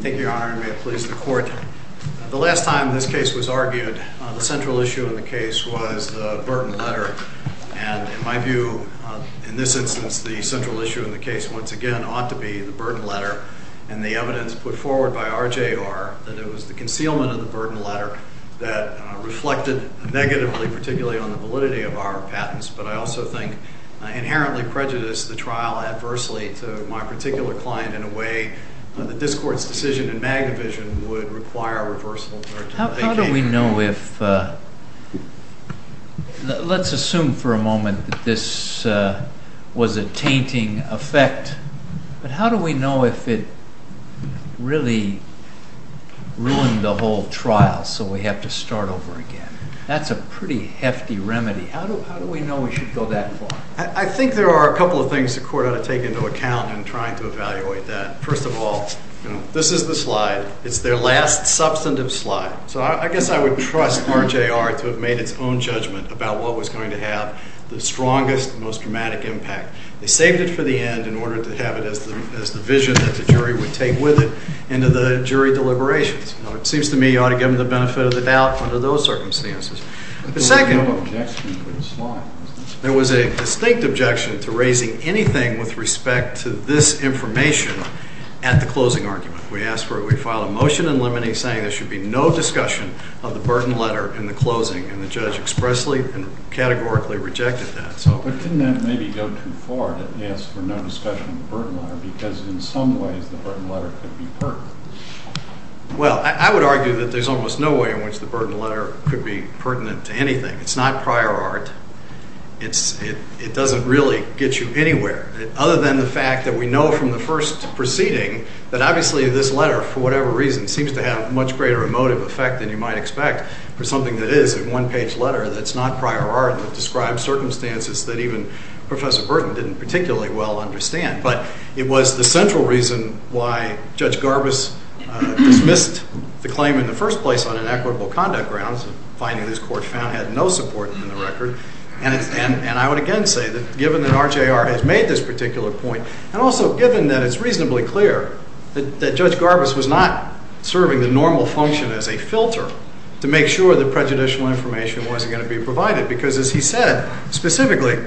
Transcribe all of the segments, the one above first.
Thank you, Your Honor, and may it please the Court, the last time this case was argued the central issue in the case was the burden letter. And in my view, in this instance, the central issue in the case, once again, ought to be the burden letter and the evidence put forward by RJR that it was the concealment of the burden letter that reflected negatively, particularly on the validity of our patents. But I also think I inherently prejudice the trial adversely to my particular client in a way that this Court's decision in Magna How do we know if, let's assume for a moment that this was a tainting effect, but how do we know if it really ruined the whole trial so we have to start over again? That's a pretty hefty remedy. How do we know we should go that far? I think there are a couple of things the Court ought to take into account in trying to evaluate that. First of all, this is the slide. It's their last substantive slide. So I guess I would trust RJR to have made its own judgment about what was going to have the strongest, most dramatic impact. They saved it for the end in order to have it as the vision that the jury would take with it into the jury deliberations. It seems to me you ought to give them the benefit of the doubt under those circumstances. There was a distinct objection to raising anything with respect to this information at the closing argument. We filed a motion in limine saying there should be no discussion of the burden letter in the closing, and the judge expressly and categorically rejected that. But didn't that maybe go too far to ask for no discussion of the burden letter because in some ways the burden letter could be pertinent? Well, I would argue that there's almost no way in which the burden letter could be pertinent to anything. It's not prior art. It doesn't really get you anywhere. Other than the fact that we know from the first proceeding that obviously this letter, for whatever reason, seems to have a much greater emotive effect than you might expect for something that is a one-page letter that's not prior art, that describes circumstances that even Professor Burton didn't particularly well understand. But it was the central reason why Judge Garbus dismissed the claim in the first place on an equitable conduct grounds, finding his court found had no support in the record. And I would again say that given that RJR has made this particular point, and also given that it's reasonably clear that Judge Garbus was not serving the normal function as a filter to make sure that prejudicial information wasn't going to be provided, because as he said specifically,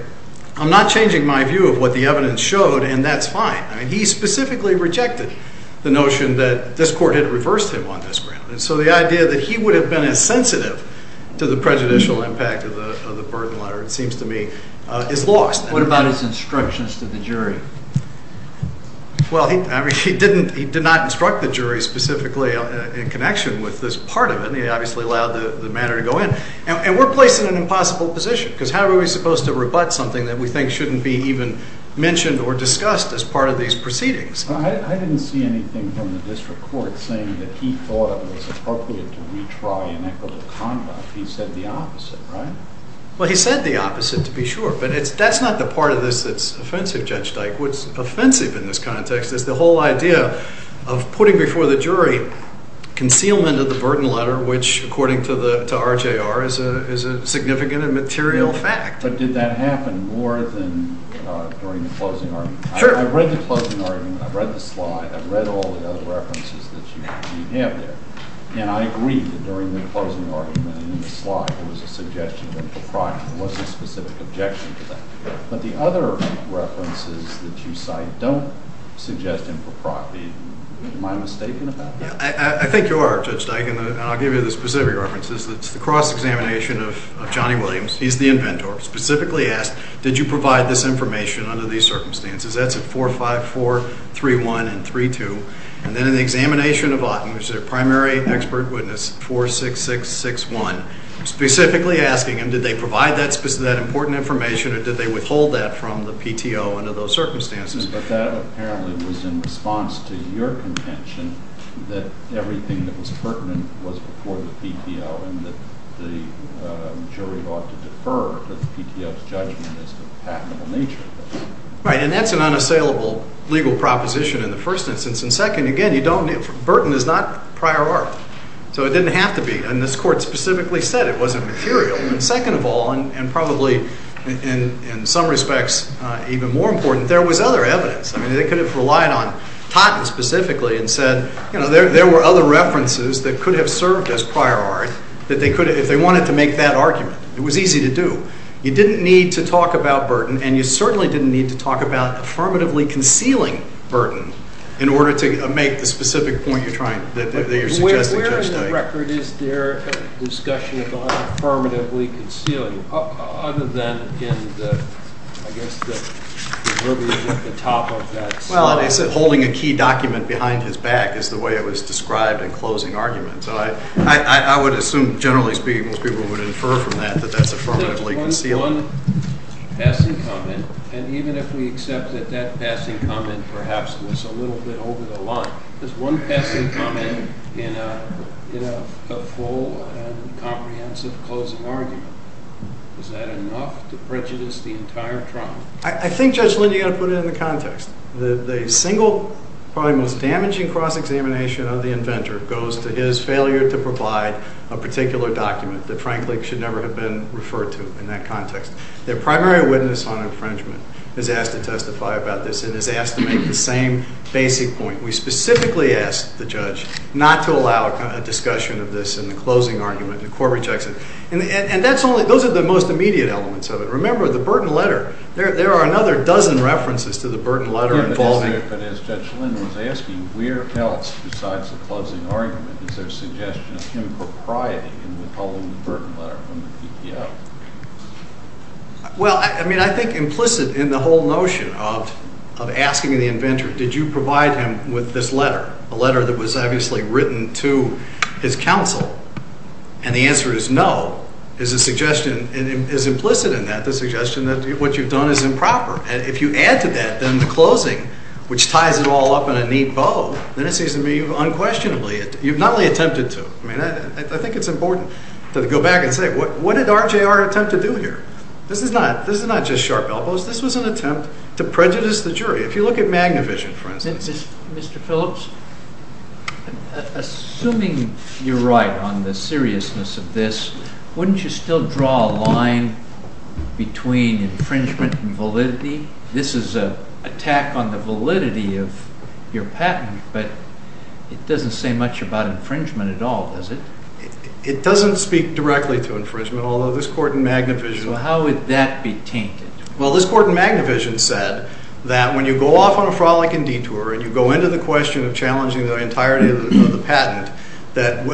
I'm not changing my view of what the evidence showed, and that's fine. I mean, he specifically rejected the notion that this court had reversed him on this ground. And so the idea that he would have been as sensitive to the prejudicial impact of the burden letter, it seems to me, is lost. What about his instructions to the jury? Well, he did not instruct the jury specifically in connection with this part of it. He obviously allowed the matter to go in. And we're placed in an impossible position, because how are we supposed to rebut something that we think shouldn't be even mentioned or discussed as part of these proceedings? I didn't see anything from the district court saying that he thought it was appropriate to retry inequitable conduct. He said the opposite, right? Well, he said the opposite, to be sure. But that's not the part of this that's offensive, Judge Dyke. What's offensive in this context is the whole idea of putting before the jury concealment of the burden letter, which, according to RJR, is a significant and material fact. But did that happen more than during the closing argument? Sure. I read the closing argument. I read the slide. I read all the other references that you have there. And I agree that during the closing argument and in the slide, there was a suggestion of impropriety. There was a specific objection to that. But the other references that you cite don't suggest impropriety. Am I mistaken about that? Yeah, I think you are, Judge Dyke. And I'll give you the specific references. It's the cross-examination of Johnny Williams. He's the inventor, specifically asked, did you provide this information under these circumstances? That's at 454, 3-1, and 3-2. And then in the primary expert witness, 46661, specifically asking him, did they provide that important information or did they withhold that from the PTO under those circumstances? But that apparently was in response to your contention that everything that was pertinent was before the PTO and that the jury ought to defer to the PTO's judgment as to the patentable nature. Right. And that's an unassailable legal proposition in the first instance. And second, burden is not prior art. So it didn't have to be. And this Court specifically said it wasn't material. And second of all, and probably in some respects even more important, there was other evidence. They could have relied on Totten specifically and said there were other references that could have served as prior art if they wanted to make that argument. It was easy to do. You didn't need to talk about burden and you certainly didn't need to talk about affirmatively concealing burden in order to make the specific point you're trying, that you're suggesting Judge Dyke. Where in the record is there a discussion about affirmatively concealing other than in the, I guess, the verbiage at the top of that slide? Well, it said holding a key document behind his back is the way it was described in closing argument. So I would assume, generally speaking, most people would infer from that that that's affirmatively concealing. One passing comment, and even if we accept that that passing comment perhaps was a little bit over the line, there's one passing comment in a full and comprehensive closing argument. Is that enough to prejudice the entire trial? I think, Judge Lind, you've got to put it in the context. The single, probably most damaging cross-examination of the inventor goes to his failure to provide a particular document that, frankly, should never have been referred to in that context. The primary witness on infringement is asked to testify about this and is asked to make the same basic point. We specifically asked the judge not to allow a discussion of this in the closing argument, the Corbett judgment. And that's only, those are the most immediate elements of it. Remember the burden letter. There are another dozen references to the burden letter involving. But as Judge Lind was asking, where else besides the closing argument is there suggestion of impropriety in the whole burden letter from the TPO? Well, I mean, I think implicit in the whole notion of asking the inventor, did you provide him with this letter, a letter that was obviously written to his counsel? And the answer is no, is a suggestion, is implicit in that, the suggestion that what you've done is improper. And if you add to that, then the closing, which ties it all up in a neat bow, then it I mean, I think it's important to go back and say, what did RJR attempt to do here? This is not, this is not just sharp elbows. This was an attempt to prejudice the jury. If you look at Magnavision, for instance. Mr. Phillips, assuming you're right on the seriousness of this, wouldn't you still draw a line between infringement and validity? This is a attack on the validity of your patent, but it doesn't say much about infringement at all, does it? It doesn't speak directly to infringement, although this court in Magnavision. So how would that be tainted? Well, this court in Magnavision said that when you go off on a frolic and detour and you go into the question of challenging the entirety of the patent, that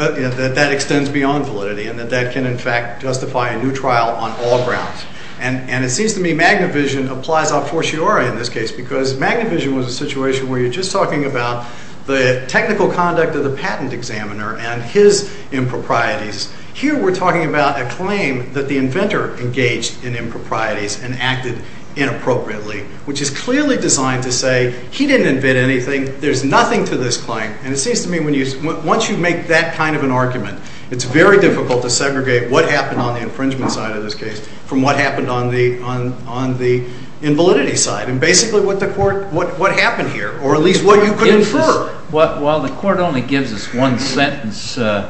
that extends beyond validity and that that can in fact justify a new trial on all grounds. And it seems to me Magnavision applies a fortiori in this case, because Magnavision was a situation where you're just talking about the technical conduct of the patent examiner and his improprieties. Here we're talking about a claim that the inventor engaged in improprieties and acted inappropriately, which is clearly designed to say he didn't invent anything. There's nothing to this claim. And it seems to me when you, once you make that kind of an argument, it's very difficult to segregate what happened on the infringement side of this case from what happened on the, on, on the invalidity side. And basically what the court, what, what happened here, or at least what you could infer. While the court only gives us one sentence to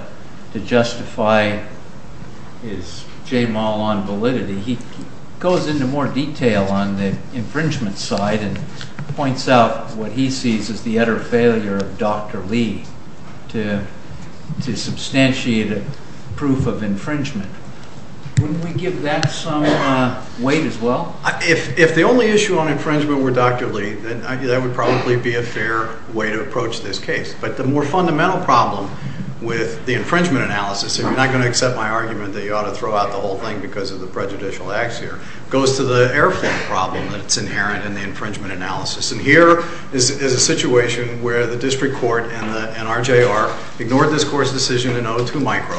justify his j-mal on validity, he goes into more detail on the infringement side and points out what he sees as the utter failure of Dr. Lee to, to substantiate a proof of infringement. Wouldn't we give that some weight as well? If, if the only issue on infringement were Dr. Lee, then that would probably be a fair way to approach this case. But the more fundamental problem with the infringement analysis, and you're not going to accept my argument that you ought to throw out the whole thing because of the prejudicial acts here, goes to the airflow problem that's inherent in the infringement analysis. And here is a situation where the district court and the, and RJR ignored this court's decision in 02 micro,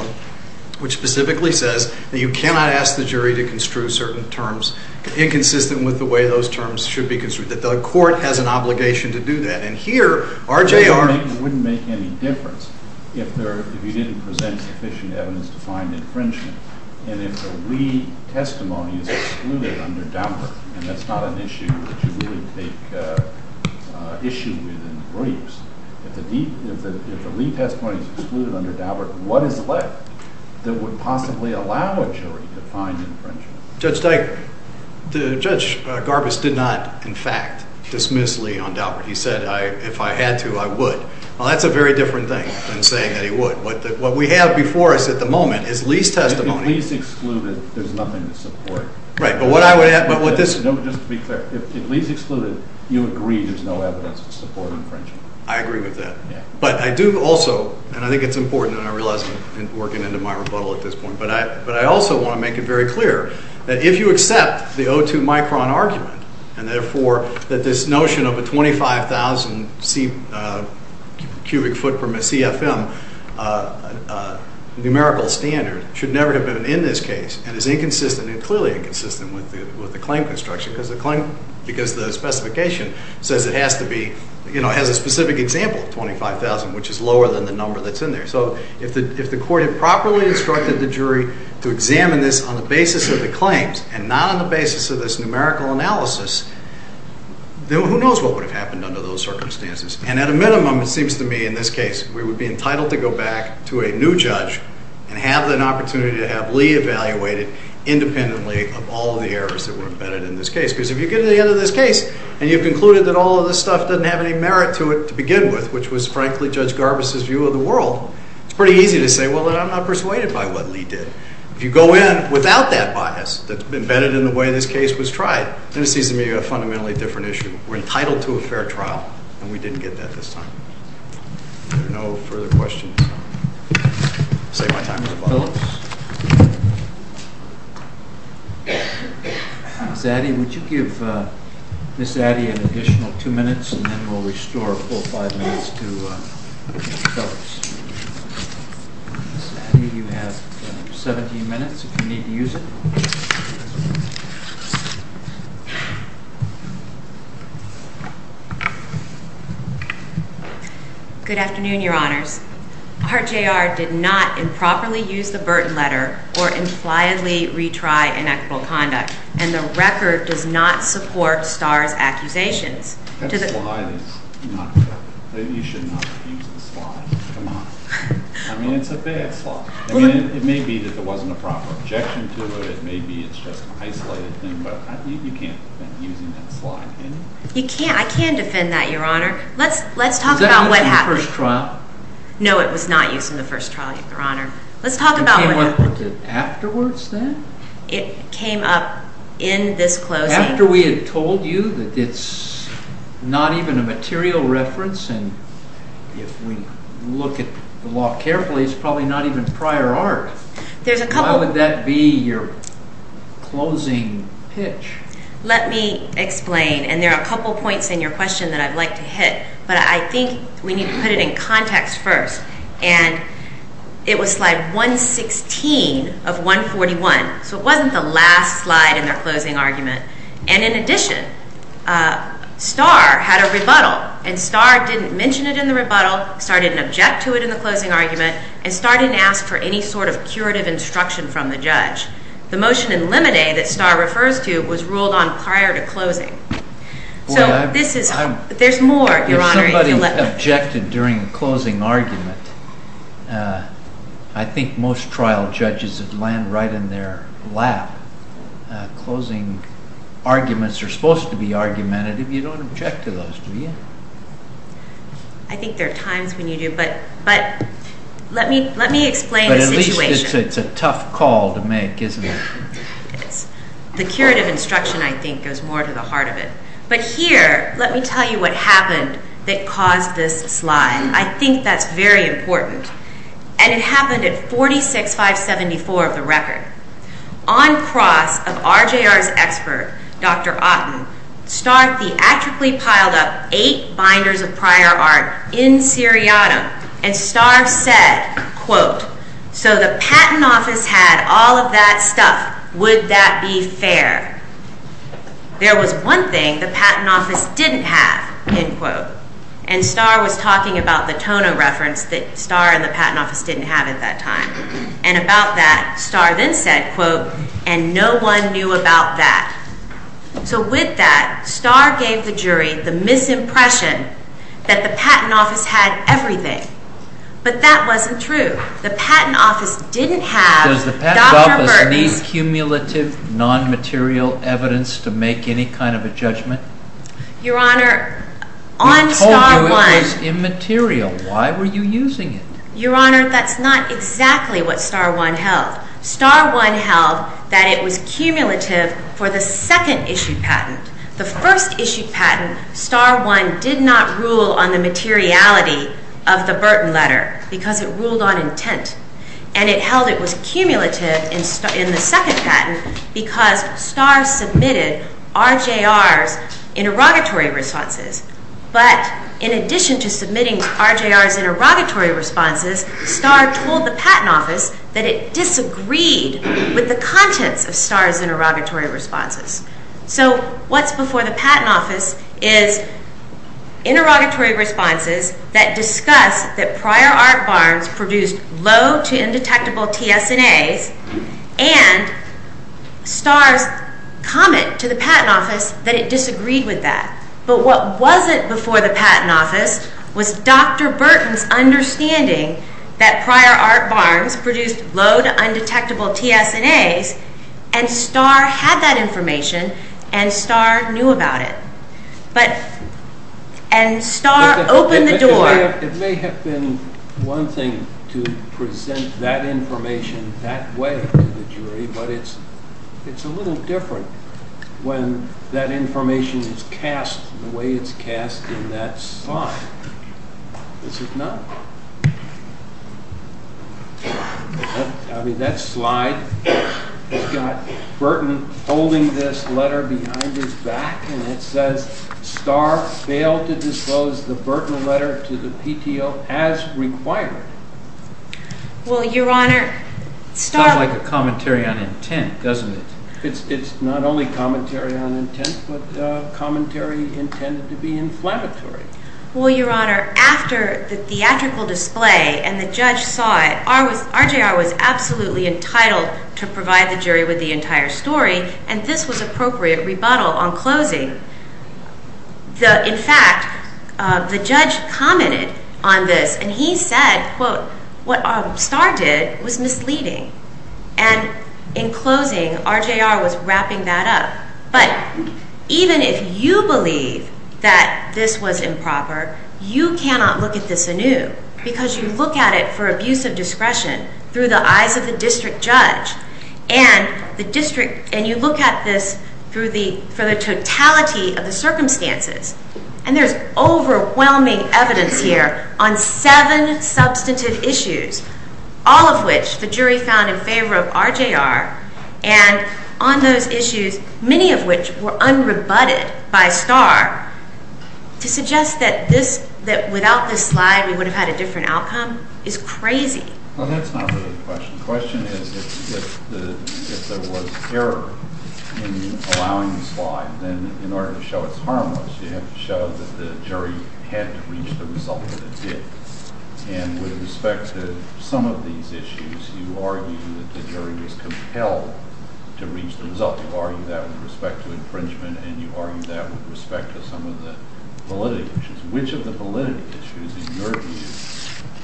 which specifically says that you cannot ask the jury to construe certain terms inconsistent with the way those terms should be construed, that the court has an obligation to do that. And here RJR. It wouldn't make any difference if there, if you didn't present sufficient evidence to find infringement. And if the Lee testimony is excluded under Daubert, and that's not an issue that you really take issue with in the briefs. If the, if the, if the Lee testimony is excluded under Daubert, what is left that would possibly allow a jury to find infringement? Judge Dike, Judge Garbus did not, in fact, dismiss Lee on Daubert. He said, I, if I had to, I would. Well, that's a very different thing than saying that he would. But what we have before us at the moment is Lee's testimony. If Lee's excluded, there's nothing to support. Right. But what I would add, but what this. No, just to be clear, if Lee's excluded, you agree there's no evidence to support infringement. I agree with that. Yeah. But I do also, and I think it's important and I realize I'm working into my rebuttal at this point, but I, but I also want to make it very clear that if you accept the O2 micron argument and therefore that this notion of a 25,000 cubic foot from a CFM numerical standard should never have been in this case and is inconsistent and clearly inconsistent with the, with the claim construction because the claim, because the specification says it has to be, you know, has a specific example of 25,000, which is lower than the 25,000 cubic foot. If we had actually instructed the jury to examine this on the basis of the claims and not on the basis of this numerical analysis, then who knows what would have happened under those circumstances. And at a minimum, it seems to me in this case, we would be entitled to go back to a new judge and have an opportunity to have Lee evaluated independently of all of the errors that were embedded in this case. Because if you get to the end of this case and you've concluded that all of this stuff doesn't have any merit to it to begin with, which was frankly Judge Garbus's view of the world, it's pretty easy to say, well, then I'm not persuaded by what Lee did. If you go in without that bias that's been embedded in the way this case was tried, then it seems to me a fundamentally different issue. We're entitled to a fair trial, and we didn't get that this time. There are no further questions. I'll save my time for the bottom. Mr. Phillips? Ms. Addy, would you give Ms. Addy an additional two minutes, and then we'll restore a full five minutes to Ms. Phillips. Ms. Addy, you have 17 minutes if you need to use it. Good afternoon, Your Honors. Art J.R. did not improperly use the Burton letter or impliedly retry inequitable conduct, and the record does not support Starr's accusations. Maybe you should not have used the slide. Come on. I mean, it's a bad slide. I mean, it may be that there wasn't a proper objection to it. It may be it's just an isolated thing, but you can't defend using that slide, can you? You can't. I can defend that, Your Honor. Let's talk about what happened. Was that used in the first trial? No, it was not used in the first trial, Your Honor. Let's talk about what happened. It came up afterwards then? It came up in this closing. After we had told you that it's not even a material reference, and if we look at the law carefully, it's probably not even prior art. Why would that be your closing pitch? Let me explain, and there are a couple points in your question that I'd like to hit, but I think we need to put it in context first, and it was slide 116 of 141, so it wasn't the last slide in their closing argument. And in addition, Starr had a rebuttal, and Starr didn't mention it in the rebuttal, Starr didn't object to it in the closing argument, and Starr didn't ask for any sort of curative instruction from the judge. The motion in Lemonade that Starr refers to was ruled on prior to closing. Boy, I'm— So this is— I'm— There's more, Your Honor, if you let me— If somebody objected during the closing argument, I think most trial judges would land right in their lap. Closing arguments are supposed to be argumentative. You don't object to those, do you? I think there are times when you do, but let me explain the situation. But at least it's a tough call to make, isn't it? It is. The curative instruction, I think, goes more to the heart of it. But here, let me tell you what happened that caused this slide. I think that's very important. And it happened at 46-574 of the record. On cross of RJR's expert, Dr. Otten, Starr theatrically piled up eight binders of prior art in seriatim, and Starr said, quote, So the patent office had all of that stuff. Would that be fair? There was one thing the patent office didn't have, end quote. And Starr was talking about the Tono reference that Starr and the patent office didn't have at that time. And about that, Starr then said, quote, And no one knew about that. So with that, Starr gave the jury the misimpression that the patent office had everything. But that wasn't true. The patent office didn't have Dr. Bergman. Does it need cumulative, non-material evidence to make any kind of a judgment? Your Honor, on Starr 1— We told you it was immaterial. Why were you using it? Your Honor, that's not exactly what Starr 1 held. Starr 1 held that it was cumulative for the second-issued patent. The first-issued patent, Starr 1 did not rule on the materiality of the Burton letter because it ruled on intent. And it held it was cumulative in the second patent because Starr submitted RJR's interrogatory responses. But in addition to submitting RJR's interrogatory responses, Starr told the patent office that it disagreed with the contents of Starr's interrogatory responses. So what's before the patent office is interrogatory responses that discuss that Prior Art Barnes produced low-to-undetectable TSNAs and Starr's comment to the patent office that it disagreed with that. But what wasn't before the patent office was Dr. Burton's understanding that Prior Art Barnes produced low-to-undetectable TSNAs and Starr had that information and Starr knew about it. But, and Starr opened the door. It may have been one thing to present that information that way to the jury, but it's a little different when that information is cast the way it's cast in that slide. This is not. I mean, that slide has got Burton holding this letter behind his back and it says, Starr failed to disclose the Burton letter to the PTO as required. Well, Your Honor, Starr. Sounds like a commentary on intent, doesn't it? It's not only commentary on intent, but commentary intended to be inflammatory. Well, Your Honor, after the theatrical display and the judge saw it, RJR was absolutely entitled to provide the jury with the entire story and this was appropriate rebuttal on closing. In fact, the judge commented on this and he said, quote, what Starr did was misleading. And in closing, RJR was wrapping that up. But even if you believe that this was improper, you cannot look at this anew because you look at it for abuse of discretion through the eyes of the district judge and the district and you look at this for the totality of the circumstances and there's overwhelming evidence here on seven substantive issues, all of which the jury found in favor of RJR and on those issues, many of which were unrebutted by Starr, to suggest that without this slide we would have had a different outcome is crazy. Well, that's not really the question. The question is if there was error in allowing the slide, then in order to show it's harmless, you have to show that the jury had to reach the result that it did. And with respect to some of these issues, you argue that the jury was compelled to reach the result. You argue that with respect to infringement and you argue that with respect to some of the validity issues. Which of the validity issues in your view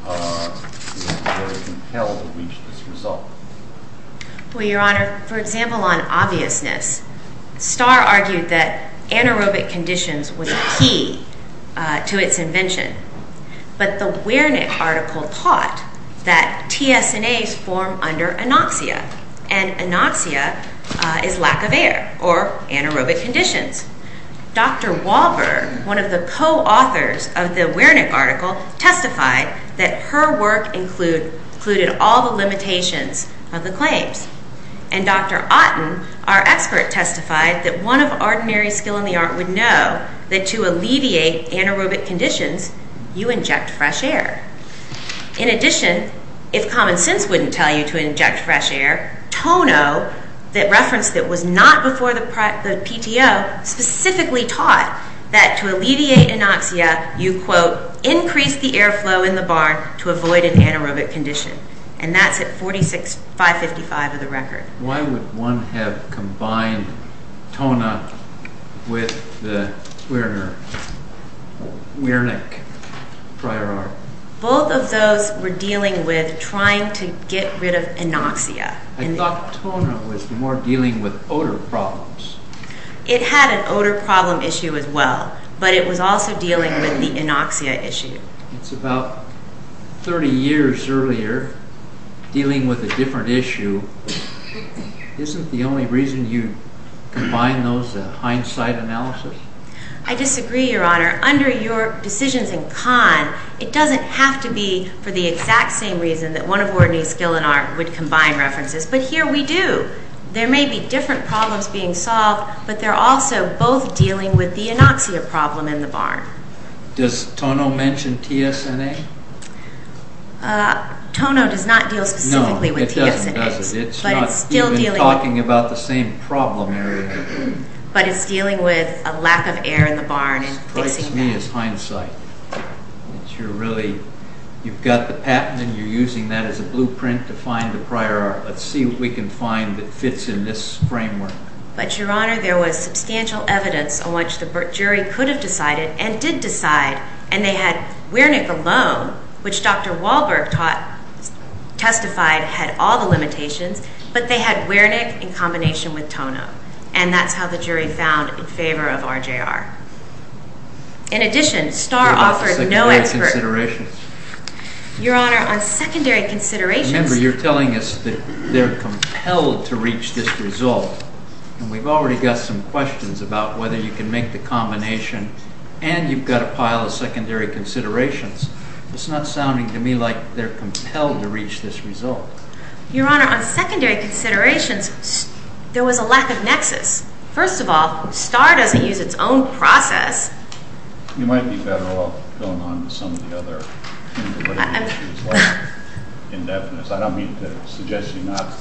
were compelled to reach this result? Well, Your Honor, for example, on obviousness, Starr argued that anaerobic conditions was key to its invention. But the Wernick article taught that TSNAs form under anoxia and anoxia is lack of air or anaerobic conditions. Dr. Wahlberg, one of the co-authors of the Wernick article, testified that her work included all the limitations of the claims. And Dr. Otten, our expert, testified that one of ordinary skill in the art would know that to alleviate anaerobic conditions, you inject fresh air. In addition, if common sense wouldn't tell you to inject fresh air, Tono, that reference that was not before the PTO, specifically taught that to alleviate anoxia, you quote, increase the airflow in the barn to avoid an anaerobic condition. And that's at 46,555 of the record. Why would one have combined tona with the Wernick prior art? Both of those were dealing with trying to get rid of anoxia. I thought tona was more dealing with odor problems. It had an odor problem issue as well, but it was also dealing with the anoxia issue. It's about 30 years earlier dealing with a different issue. Isn't the only reason you combine those a hindsight analysis? I disagree, Your Honor. Under your decisions in Kahn, it doesn't have to be for the exact same reason that one of Wernick's skill and art would combine references. But here we do. There may be different problems being solved, but they're also both dealing with the anoxia problem in the barn. Does Tono mention TSNA? Tono does not deal specifically with TSNA. It's not even talking about the same problem area. But it's dealing with a lack of air in the barn. It strikes me as hindsight. You've got the patent, and you're using that as a blueprint to find the prior art. Let's see what we can find that fits in this framework. But, Your Honor, there was substantial evidence on which the jury could have decided and did decide. And they had Wernick alone, which Dr. Wahlberg testified had all the limitations, but they had Wernick in combination with Tono. And that's how the jury found in favor of RJR. In addition, Starr offered no expert... Your Honor, on secondary considerations... Remember, you're telling us that they're compelled to reach this result. And we've already got some questions about whether you can make the combination, and you've got a pile of secondary considerations. It's not sounding to me like they're compelled to reach this result. Your Honor, on secondary considerations, there was a lack of nexus. First of all, Starr doesn't use its own process. You might be better off going on to some of the other issues, like indefiniteness. I don't mean to suggest you're not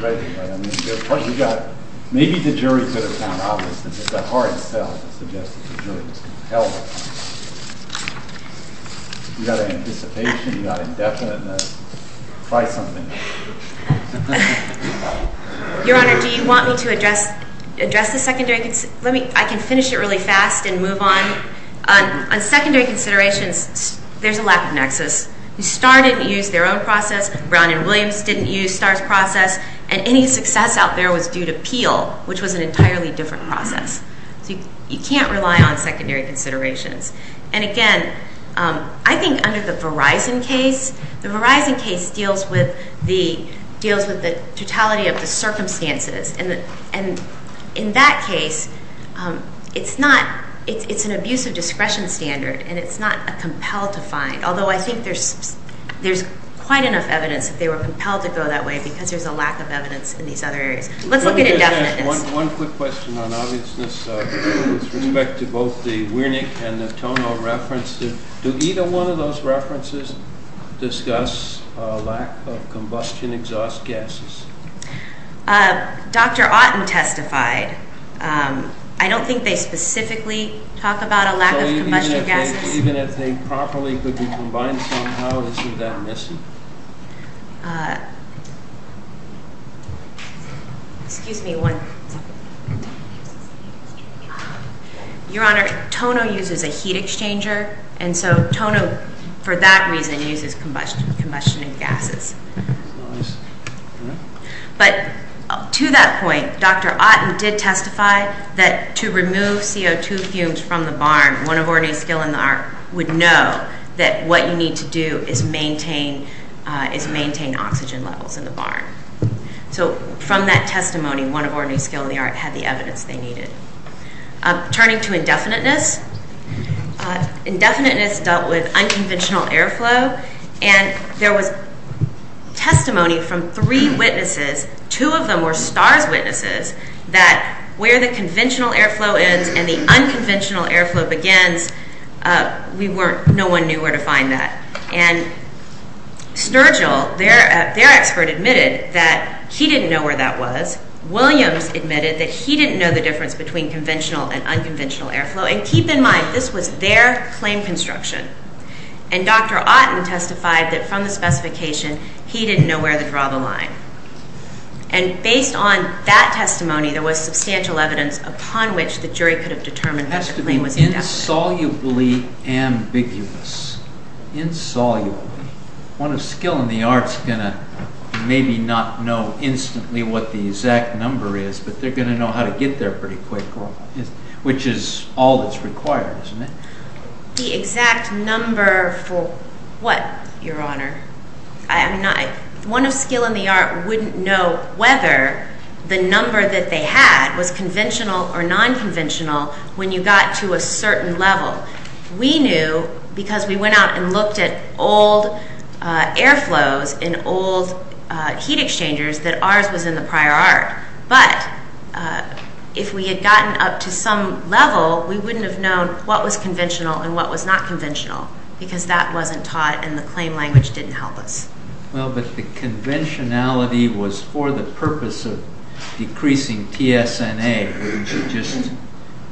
ready, but, I mean, you've got... Maybe the jury could have found out that it was the heart itself that suggested the jury was compelled to find out. You've got anticipation, you've got indefiniteness. Try something new. Your Honor, do you want me to address the secondary... I can finish it really quickly. Really fast and move on. On secondary considerations, there's a lack of nexus. Starr didn't use their own process. Brown and Williams didn't use Starr's process. And any success out there was due to Peel, which was an entirely different process. So you can't rely on secondary considerations. And again, I think under the Verizon case, the Verizon case deals with the totality of the circumstances. And in that case, it's an abusive discretion standard, and it's not a compelled to find. Although I think there's quite enough evidence that they were compelled to go that way because there's a lack of evidence in these other areas. Let's look at indefiniteness. One quick question on obviousness with respect to both the Wiernik and the Tono references. Do either one of those references discuss a lack of combustion exhaust gases? Dr. Otten testified. I don't think they specifically talk about a lack of combustion gases. So even if they properly could be combined somehow, isn't that missing? Excuse me one second. Your Honor, Tono uses a heat exchanger. And so Tono, for that reason, uses combustion gases. But to that point, Dr. Otten did testify that to remove CO2 fumes from the barn, one of ordinary skill in the art would know that what you need to do is maintain oxygen levels in the barn. So from that testimony, one of ordinary skill in the art had the evidence they needed. Turning to indefiniteness. Indefiniteness dealt with unconventional airflow. And there was testimony from three witnesses. Two of them were STARS witnesses that where the conventional airflow ends and the unconventional airflow begins, no one knew where to find that. And Sturgill, their expert admitted that he didn't know where that was. Williams admitted that he didn't know the difference between conventional and unconventional airflow. And keep in mind, this was their claim construction. And Dr. Otten testified that from the specification, he didn't know where to draw the line. And based on that testimony, there was substantial evidence upon which the jury could have determined that the claim was indefinite. Insolubly ambiguous. Insolubly. One of skill in the art's going to maybe not know instantly what the exact number is, but they're going to know how to get there pretty quick, which is all that's required, isn't it? The exact number for what, Your Honor? One of skill in the art wouldn't know whether the number that they had was conventional or non-conventional when you got to a certain level. We knew because we went out and looked at old air flows and old heat exchangers that ours was in the prior art. But if we had gotten up to some level, we wouldn't have known what was conventional and what was not conventional because that wasn't taught and the claim language didn't help us. Well, but the conventionality was for the purpose of decreasing T-S-N-A. Just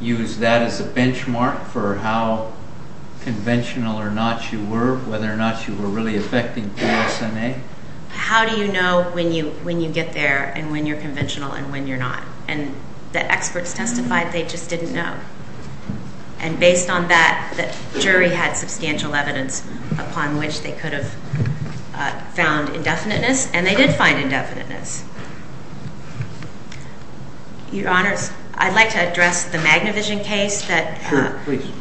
use that as a benchmark for how conventional or not you were, whether or not you were really affecting T-S-N-A. How do you know when you get there and when you're conventional and when you're not? And the experts testified they just didn't know. And based on that, the jury had substantial evidence upon which they could have found indefiniteness. And they did find indefiniteness. Your Honors, I'd like to address the Magnavision case that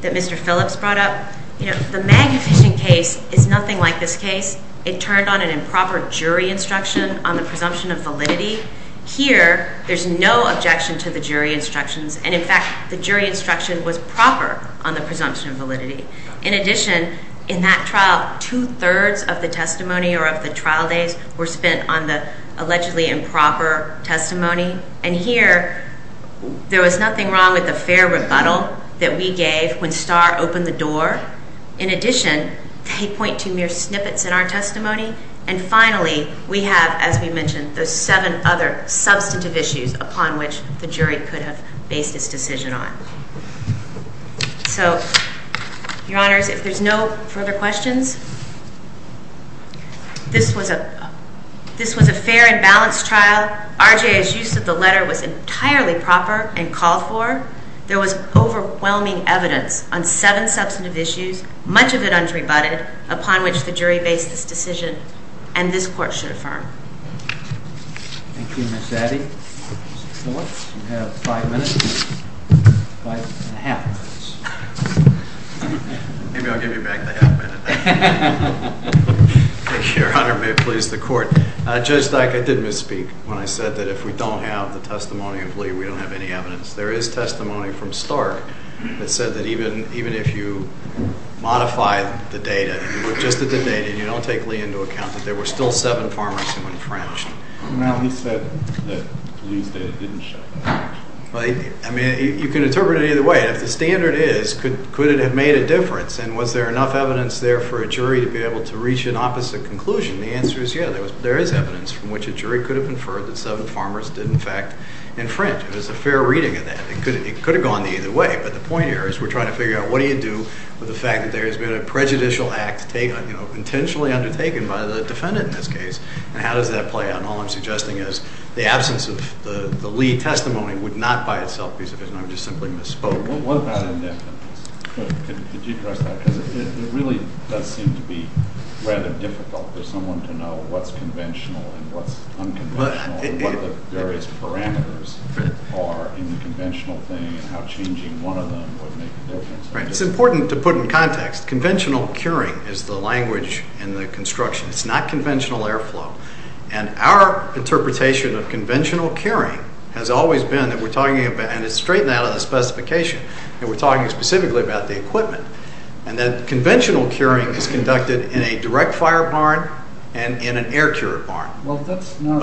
Mr. Phillips brought up. The Magnavision case is nothing like this case. It turned on an improper jury instruction on the presumption of validity. Here, there's no objection to the jury instructions. And in fact, the jury instruction was proper on the presumption of validity. In addition, in that trial, two-thirds of the testimony or of the trial days were spent on the allegedly improper testimony. And here, there was nothing wrong with the fair rebuttal that we gave when Starr opened the door. In addition, they point to mere snippets in our testimony. And finally, we have, as we mentioned, those seven other substantive issues upon which the jury could have based its decision on. So Your Honors, if there's no further questions, this was a fair and balanced trial. R.J.'s use of the letter was entirely proper and called for. There was overwhelming evidence on seven substantive issues, much of it unrebutted, upon which the jury based its decision, and this Court should affirm. Thank you, Ms. Addy. Mr. Phillips, you have five minutes, five and a half minutes. Maybe I'll give you back the half minute. Thank you, Your Honor. May it please the Court. Judge Dyke, I did misspeak when I said that if we don't have the testimony of Lee, we don't have any evidence. There is testimony from Starr that said that even if you modify the data, you look just at the data, you don't take Lee into account, that there were still seven farmers who were infringed. No, he said that Lee's data didn't show infringement. I mean, you can interpret it either way. If the standard is, could it have made a difference? And was there enough evidence there for a jury to be able to reach an opposite conclusion? The answer is, yeah, there is evidence from which a jury could have inferred that seven farmers did, in fact, infringe. It was a fair reading of that. It could have gone either way. But the point here is we're trying to figure out, what do you do with the fact that there has been a prejudicial act intentionally undertaken by the defendant in this case? And how does that play out? And all I'm suggesting is the absence of the Lee testimony would not by itself be sufficient. I'm just simply misspoke. What about indefinite? Could you address that? Because it really does seem to be rather difficult for someone to know what's conventional and what's unconventional, and what the various parameters are in the conventional thing, and how changing one of them would make a difference. It's important to put in context. Conventional curing is the language in the construction. It's not conventional airflow. And our interpretation of conventional curing has always been that we're talking about, and it's straightened out of the specification, that we're talking specifically about the equipment. And that conventional curing is conducted in a direct fire barn and in an air-cured barn. Well, that's not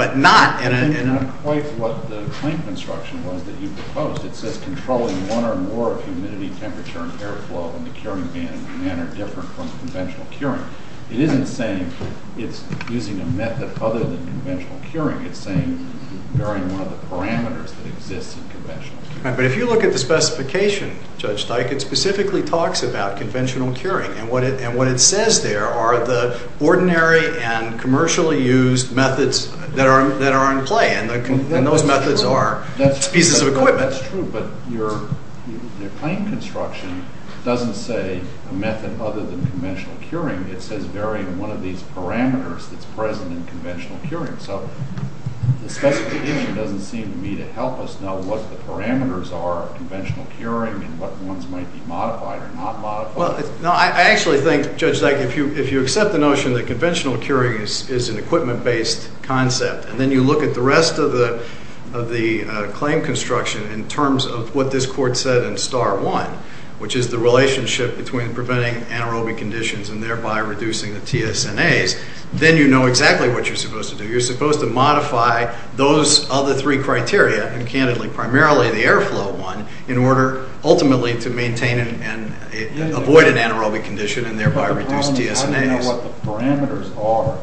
quite what the claim construction was that you proposed. It says controlling one or more of humidity, temperature, and airflow in the curing van in a manner different from conventional curing. It isn't saying it's using a method other than conventional curing. It's saying varying one of the parameters that exists in conventional curing. But if you look at the specification, Judge Steichen, specifically talks about conventional curing. And what it says there are the ordinary and commercially used methods that are in play. And those methods are pieces of equipment. That's true. But your claim construction doesn't say a method other than conventional curing. It says varying one of these parameters that's present in conventional curing. So the specification doesn't seem to me to help us know what the parameters are of conventional curing and what ones might be modified or not modified. No, I actually think, Judge Steichen, if you accept the notion that conventional curing is an equipment-based concept, and then you look at the rest of the claim construction in terms of what this court said in star one, which is the relationship between preventing anaerobic conditions and thereby reducing the TSNAs, then you know exactly what you're supposed to do. You're supposed to modify those other three criteria, and candidly, primarily the airflow one, in order, ultimately, to maintain and avoid an anaerobic condition and thereby reduce TSNAs. But the problem is, I don't know what the parameters are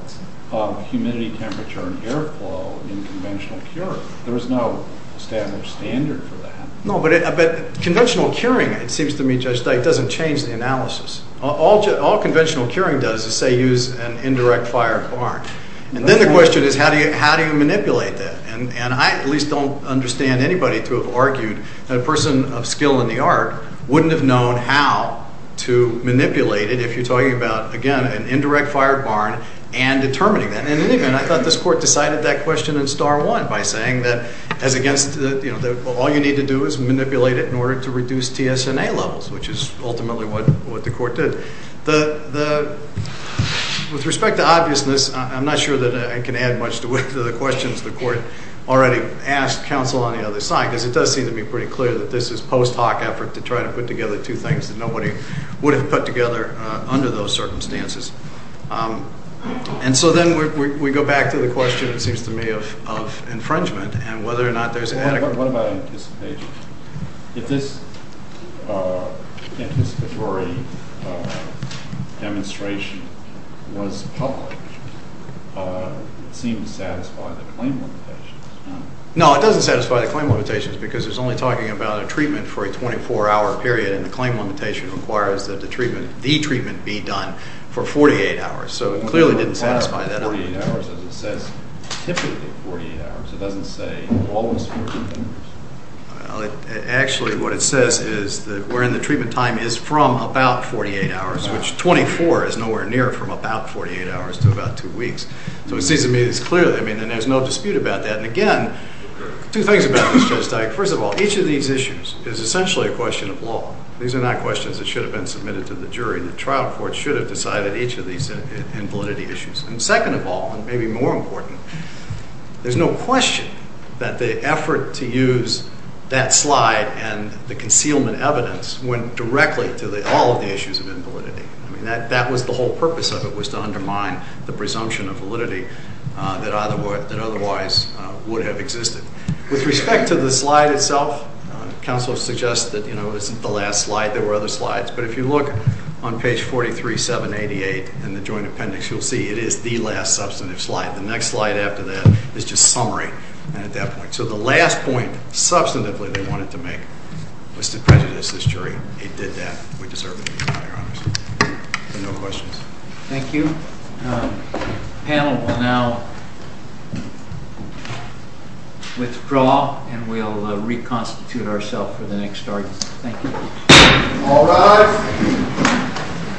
of humidity, temperature, and airflow in conventional curing. There is no standard for that. No, but conventional curing, it seems to me, Judge Steichen, doesn't change the analysis. All conventional curing does is, say, use an indirect fire barn. And then the question is, how do you manipulate that? And I at least don't understand anybody to have argued that a person of skill in the art wouldn't have known how to manipulate it if you're talking about, again, an indirect fire barn and determining that. And in any event, I thought this court decided that question in star one by saying that all you need to do is manipulate it in order to reduce TSNA levels, which is ultimately what the court did. With respect to obviousness, I'm not sure that I can add much to the questions the court already asked counsel on the other side, because it does seem to be pretty clear that this is post hoc effort to try to put together two things that nobody would have put together under those circumstances. And so then we go back to the question, it seems to me, of infringement and whether or not there's adequate. What about anticipation? If this anticipatory demonstration was public, it seemed to satisfy the claim limitations, no? No, it doesn't satisfy the claim limitations, because it's only talking about a treatment for a 24-hour period, and the claim limitation requires that the treatment be done for 48 hours. So it clearly didn't satisfy that. 48 hours, as it says, typically 48 hours. It doesn't say almost 48 hours. Actually, what it says is that we're in the treatment time is from about 48 hours, which 24 is nowhere near from about 48 hours to about two weeks. So it seems to me it's clear. And there's no dispute about that. And again, two things about this, Judge Dyke. First of all, each of these issues is essentially a question of law. These are not questions that should have been submitted to the jury. The trial court should have decided each of these in validity issues. And second of all, and maybe more important, there's no question that the effort to use that slide and the concealment evidence went directly to all of the issues of invalidity. That was the whole purpose of it, was to undermine the presumption of validity that otherwise would have existed. With respect to the slide itself, counsel suggests that it's the last slide. There were other slides. But if you look on page 43, 788 in the joint appendix, you'll see it is the last substantive slide. The next slide after that is just summary. And at that point. So the last point, substantively, they wanted to make was to prejudice this jury. It did that. We deserve it, Your Honor. No questions. Thank you. Panel will now withdraw. And we'll reconstitute ourselves for the next arguments. Thank you. All rise.